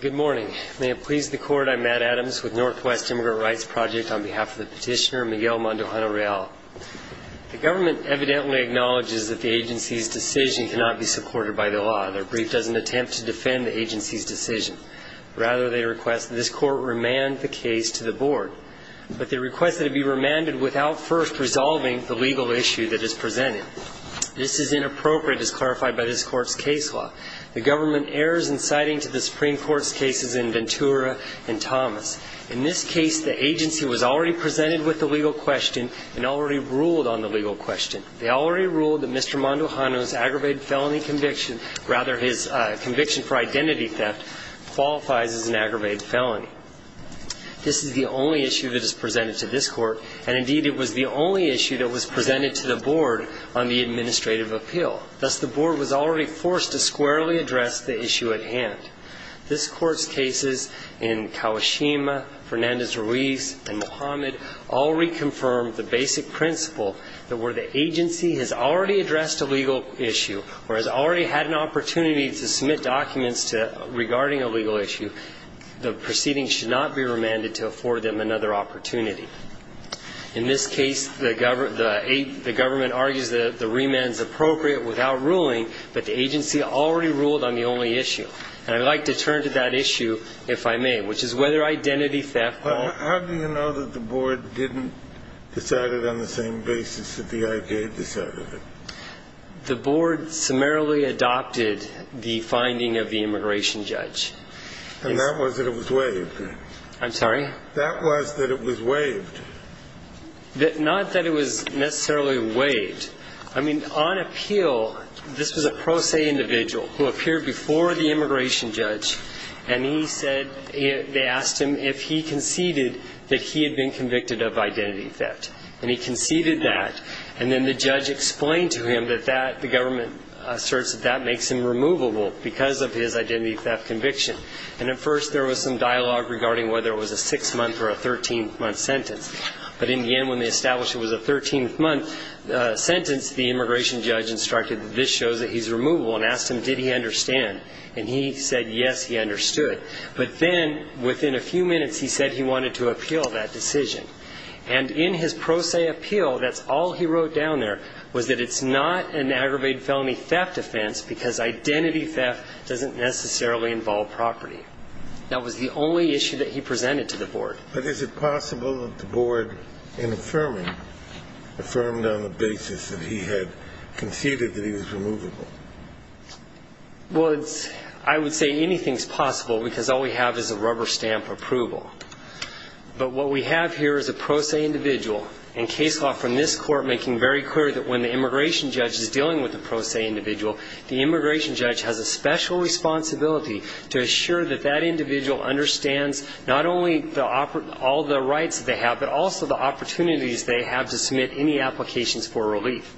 Good morning. May it please the court, I'm Matt Adams with Northwest Immigrant Rights Project on behalf of the petitioner Miguel Mandujano-Real. The government evidently acknowledges that the agency's decision cannot be supported by the law. Their brief doesn't attempt to defend the agency's decision. Rather, they request that this court remand the case to the board. But they request that it be remanded without first resolving the legal issue that is presented. This is inappropriate, as clarified by this court's case law. The government errs in citing to the Supreme Court's cases in Ventura and Thomas. In this case, the agency was already presented with the legal question and already ruled on the legal question. They already ruled that Mr. Mandujano's aggravated felony conviction, rather his conviction for identity theft, qualifies as an aggravated felony. This is the only issue that is presented to this court, and indeed it was the only issue that was presented to the board on the administrative appeal. Thus, the board was already forced to squarely address the issue at hand. This court's cases in Kawashima, Fernandez-Ruiz, and Mohamed all reconfirmed the basic principle that where the agency has already addressed a legal issue or has already had an opportunity to submit documents to regarding a legal issue, the proceeding should not be remanded to afford them another opportunity. In this case, the government argues that the remand is appropriate without ruling, but the agency already ruled on the only issue. And I'd like to turn to that issue, if I may, which is whether identity theft or not. How do you know that the board didn't decide it on the same basis that the I.J. decided it? The board summarily adopted the finding of the immigration judge. And that was that it was waived? I'm sorry? That was that it was waived. Not that it was necessarily waived. I mean, on appeal, this was a pro se individual who appeared before the immigration judge, and he said they asked him if he conceded that he had been convicted of identity theft. And he conceded that, and then the judge explained to him that the government asserts that that makes him removable because of his identity theft conviction. And at first, there was some dialogue regarding whether it was a six-month or a 13-month sentence. But in the end, when they established it was a 13-month sentence, the immigration judge instructed that this shows that he's removable and asked him, did he understand? And he said, yes, he understood. But then, within a few minutes, he said he wanted to appeal that decision. And in his pro se appeal, that's all he wrote down there, was that it's not an aggravated felony theft offense because identity theft doesn't necessarily involve property. That was the only issue that he presented to the board. But is it possible that the board, in affirming, affirmed on the basis that he had conceded that he was removable? Well, I would say anything's possible because all we have is a rubber stamp approval. But what we have here is a pro se individual, and case law from this court making very clear that when the immigration judge is dealing with a pro se individual, the immigration judge has a special responsibility to assure that that individual understands not only all the rights that they have, but also the opportunities they have to submit any applications for relief.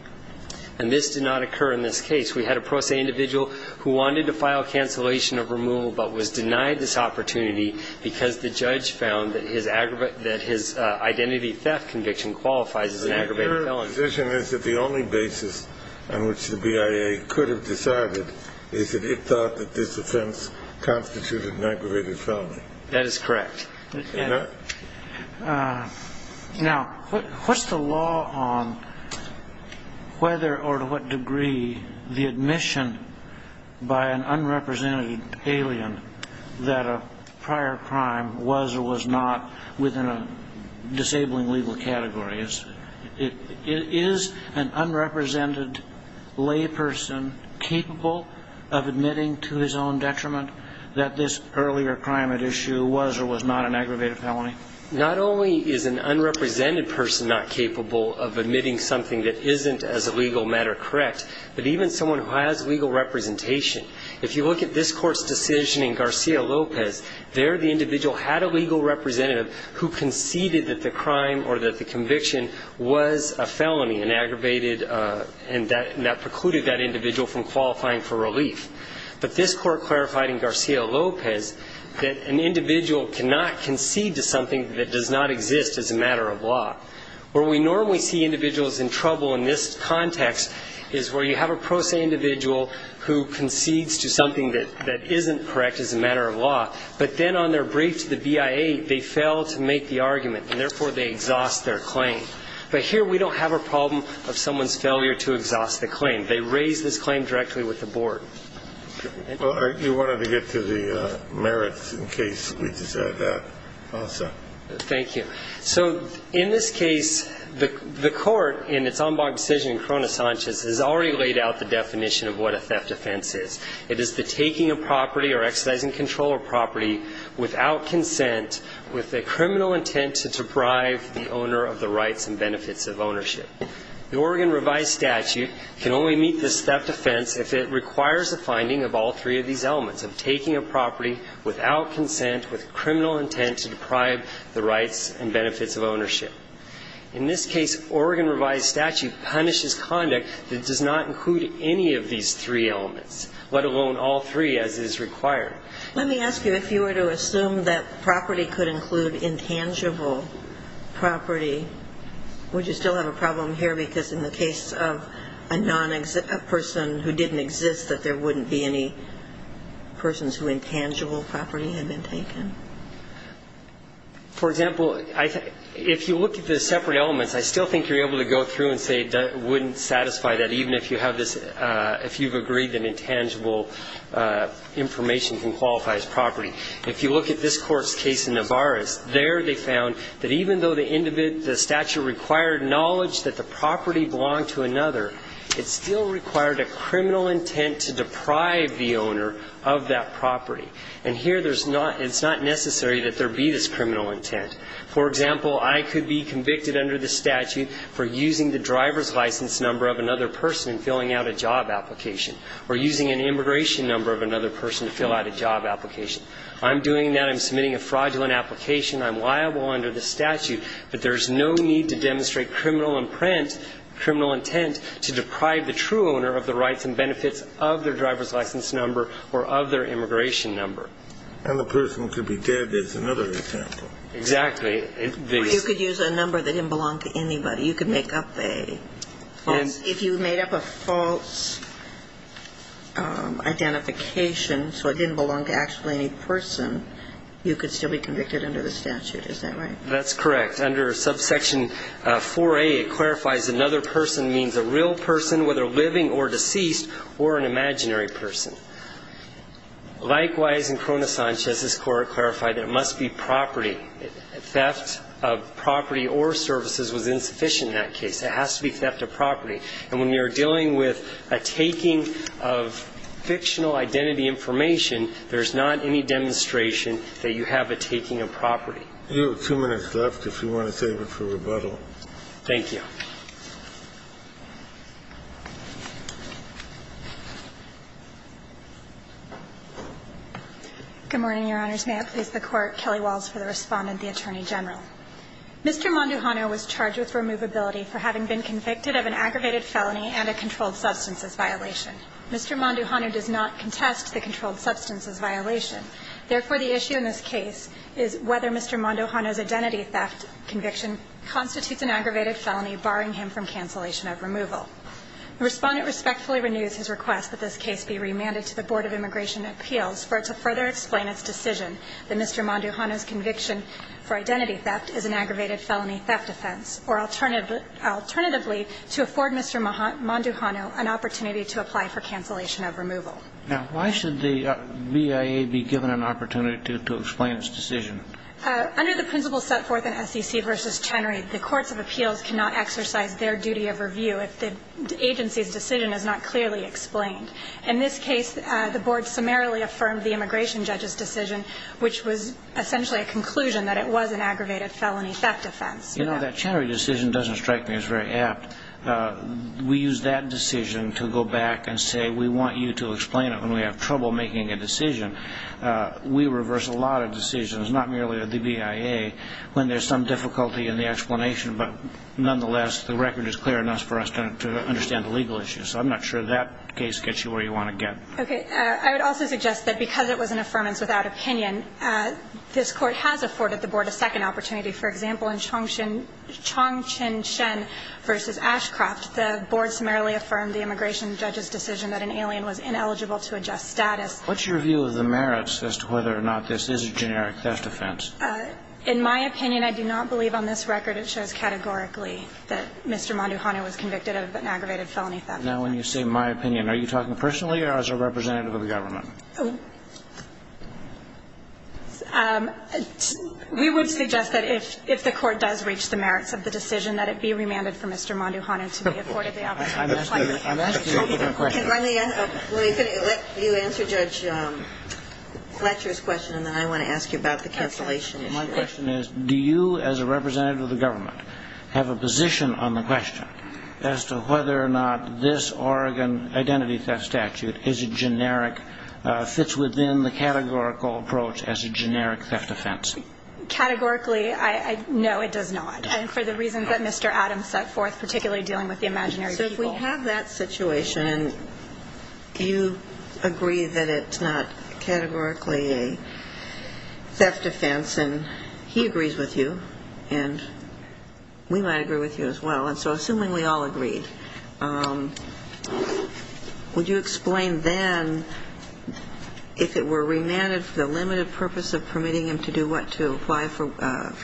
And this did not occur in this case. We had a pro se individual who wanted to file cancellation of removal but was denied this opportunity because the judge found that his identity theft conviction qualifies as an aggravated felony. So your position is that the only basis on which the BIA could have decided is that it thought that this offense constituted an aggravated felony? That is correct. Now, what's the law on whether or to what degree the admission by an unrepresented alien that a prior crime was or was not within a disabling legal category? Is an unrepresented lay person capable of admitting to his own detriment that this earlier crime at issue was or was not an aggravated felony? Not only is an unrepresented person not capable of admitting something that isn't, as a legal matter, correct, but even someone who has legal representation. If you look at this court's decision in Garcia-Lopez, there the individual had a legal representative who conceded that the crime or that the conviction was a felony and that precluded that individual from qualifying for relief. But this court clarified in Garcia-Lopez that an individual cannot concede to something that does not exist as a matter of law. Where we normally see individuals in trouble in this context is where you have a pro se individual who concedes to something that isn't correct as a matter of law, but then on their brief to the BIA, they fail to make the argument, and therefore they exhaust their claim. But here we don't have a problem of someone's failure to exhaust the claim. They raise this claim directly with the board. Well, you wanted to get to the merits in case we decide that. I'll stop. Thank you. So in this case, the court, in its en banc decision in Corona-Sanchez, has already laid out the definition of what a theft offense is. It is the taking of property or exercising control of property without consent, with a criminal intent to deprive the owner of the rights and benefits of ownership. The Oregon revised statute can only meet this theft offense if it requires a finding of all three of these elements, of taking a property without consent, with criminal intent to deprive the rights and benefits of ownership. In this case, Oregon revised statute punishes conduct that does not include any of these three elements, let alone all three as is required. Let me ask you, if you were to assume that property could include intangible property, would you still have a problem here because in the case of a person who didn't exist, that there wouldn't be any persons who intangible property had been taken? For example, if you look at the separate elements, I still think you're able to go through and say it wouldn't satisfy that even if you have this, if you've agreed that intangible information can qualify as property. If you look at this court's case in Navarres, there they found that even though the statute required knowledge that the property belonged to another, it still required a criminal intent to deprive the owner of that property. And here it's not necessary that there be this criminal intent. For example, I could be convicted under the statute for using the driver's license number of another person and filling out a job application, or using an immigration number of another person to fill out a job application. I'm doing that, I'm submitting a fraudulent application, I'm liable under the statute, but there's no need to demonstrate criminal intent to deprive the true owner of the rights and benefits of their driver's license number or of their immigration number. And the person could be dead is another example. Exactly. You could use a number that didn't belong to anybody. You could make up a false, if you made up a false identification, so it didn't belong to actually any person, you could still be convicted under the statute. Is that right? That's correct. Under subsection 4A, it clarifies another person means a real person, whether living or deceased, or an imaginary person. Likewise, in Corona Sanchez, this Court clarified there must be property. Theft of property or services was insufficient in that case. It has to be theft of property. And when you're dealing with a taking of fictional identity information, there's not any demonstration that you have a taking of property. You have two minutes left if you want to save it for rebuttal. Thank you. Good morning, Your Honors. May it please the Court. Kelly Walls for the Respondent, the Attorney General. Mr. Monduhanu was charged with removability for having been convicted of an aggravated felony and a controlled substances violation. Mr. Monduhanu does not contest the controlled substances violation. Therefore, the issue in this case is whether Mr. Monduhanu's identity theft conviction constitutes an aggravated felony, barring him from cancellation of removal. The Respondent respectfully renews his request that this case be remanded to the Board of Immigration Appeals for it to further explain its decision that Mr. Monduhanu's conviction for identity theft is an aggravated felony theft offense, or alternatively to afford Mr. Monduhanu an opportunity to apply for cancellation of removal. Now, why should the BIA be given an opportunity to explain its decision? Under the principles set forth in SEC v. Chenery, the Courts of Appeals cannot exercise their duty of review if the agency's decision is not clearly explained. In this case, the Board summarily affirmed the immigration judge's decision, which was essentially a conclusion that it was an aggravated felony theft offense. You know, that Chenery decision doesn't strike me as very apt. We use that decision to go back and say we want you to explain it when we have trouble making a decision. We reverse a lot of decisions, not merely the BIA, when there's some difficulty in the explanation. But nonetheless, the record is clear enough for us to understand the legal issues. So I'm not sure that case gets you where you want to get. Okay. I would also suggest that because it was an affirmance without opinion, this Court has afforded the Board a second opportunity. For example, in Chong Qin Shen v. Ashcroft, the Board summarily affirmed the immigration judge's decision that an alien was ineligible to adjust status. What's your view of the merits as to whether or not this is a generic theft offense? In my opinion, I do not believe on this record it shows categorically that Mr. Monduhanu was convicted of an aggravated felony theft. Now, when you say my opinion, are you talking personally or as a representative of the government? We would suggest that if the Court does reach the merits of the decision, that it be remanded for Mr. Monduhanu to be afforded the opportunity. I'm asking a different question. Let me finish. You answer Judge Fletcher's question, and then I want to ask you about the cancellation issue. My question is, do you as a representative of the government have a position on the question as to whether or not this Oregon identity theft statute is a generic theft offense? Categorically, no, it does not. And for the reasons that Mr. Adams set forth, particularly dealing with the imaginary people. So if we have that situation, you agree that it's not categorically a theft offense, and he agrees with you, and we might agree with you as well. And so assuming we all agreed, would you explain then if it were remanded for the limited purpose of permitting him to do what, to apply for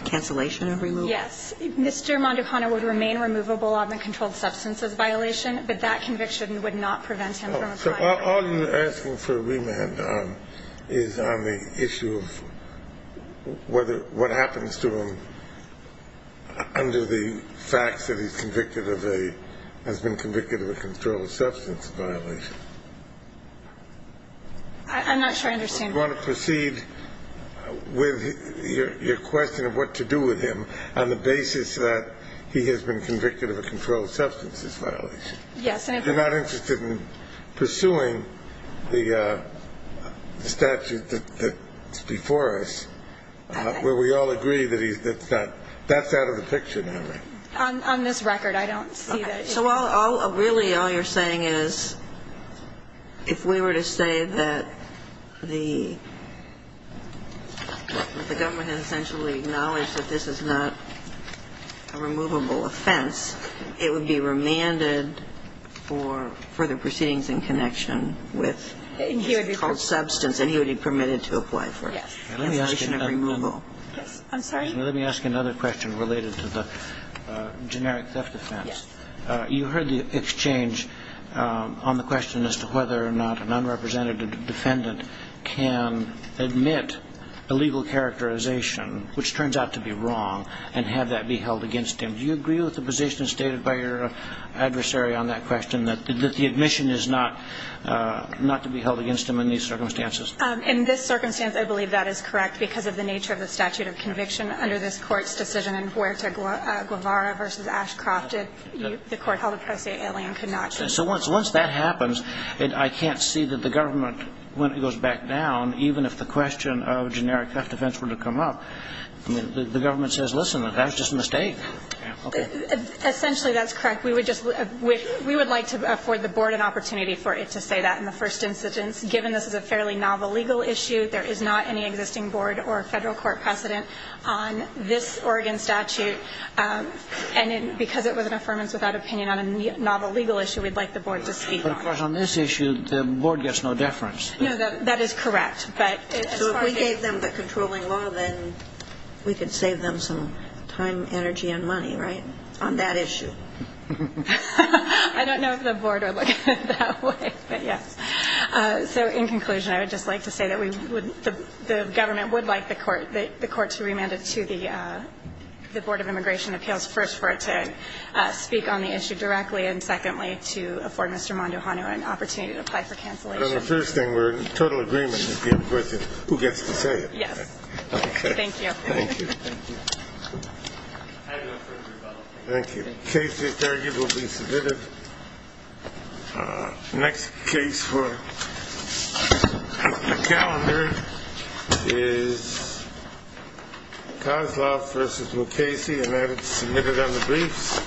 cancellation of removal? Yes. Mr. Monduhanu would remain removable on the controlled substances violation, but that conviction would not prevent him from applying. So all you're asking for remand is on the issue of whether what happens to him under the facts that he's convicted of a, has been convicted of a controlled substance violation. I'm not sure I understand. You want to proceed with your question of what to do with him on the basis that he has been convicted of a controlled substances violation. Yes. You're not interested in pursuing the statute that's before us, where we all agree that he's, that's not, that's out of the picture now, right? On this record, I don't see that. Okay. So really all you're saying is if we were to say that the government has essentially acknowledged that this is not a removable offense, it would be remanded for further proceedings in connection with controlled substance, and he would be permitted to apply for cancellation of removal. I'm sorry? Let me ask another question related to the generic theft offense. Yes. You heard the exchange on the question as to whether or not an unrepresented defendant can admit illegal characterization, which turns out to be wrong, and have that be held against him. Do you agree with the position stated by your adversary on that question, that the admission is not, not to be held against him in these circumstances? In this circumstance, I believe that is correct because of the nature of the statute of conviction under this Court's decision in Huerta-Guevara v. Ashcroft. The Court held it precisely. Alien could not. So once that happens, I can't see that the government, when it goes back down, even if the question of generic theft offense were to come up, the government says, listen, that was just a mistake. Essentially, that's correct. We would just, we would like to afford the Board an opportunity for it to say that in the first instance. Given this is a fairly novel legal issue, there is not any existing Board or Federal Court precedent on this Oregon statute. And because it was an affirmance without opinion on a novel legal issue, we'd like the Board to speak on it. But, of course, on this issue, the Board gets no deference. No, that is correct. So if we gave them the controlling law, then we could save them some time, energy, and money, right, on that issue? I don't know if the Board would look at it that way, but yes. So in conclusion, I would just like to say that we would, the government would like the Court to remand it to the Board of Immigration Appeals, first, for it to speak on the issue directly, and secondly, to afford Mr. Mondo-Hano an opportunity to apply for cancellation. But on the first thing, we're in total agreement if you have a question. Who gets to say it? Yes. Okay. Thank you. Thank you. Thank you. The case is arguably submitted. Next case for the calendar is Kozlov v. Mukasey, and that is submitted on the briefs.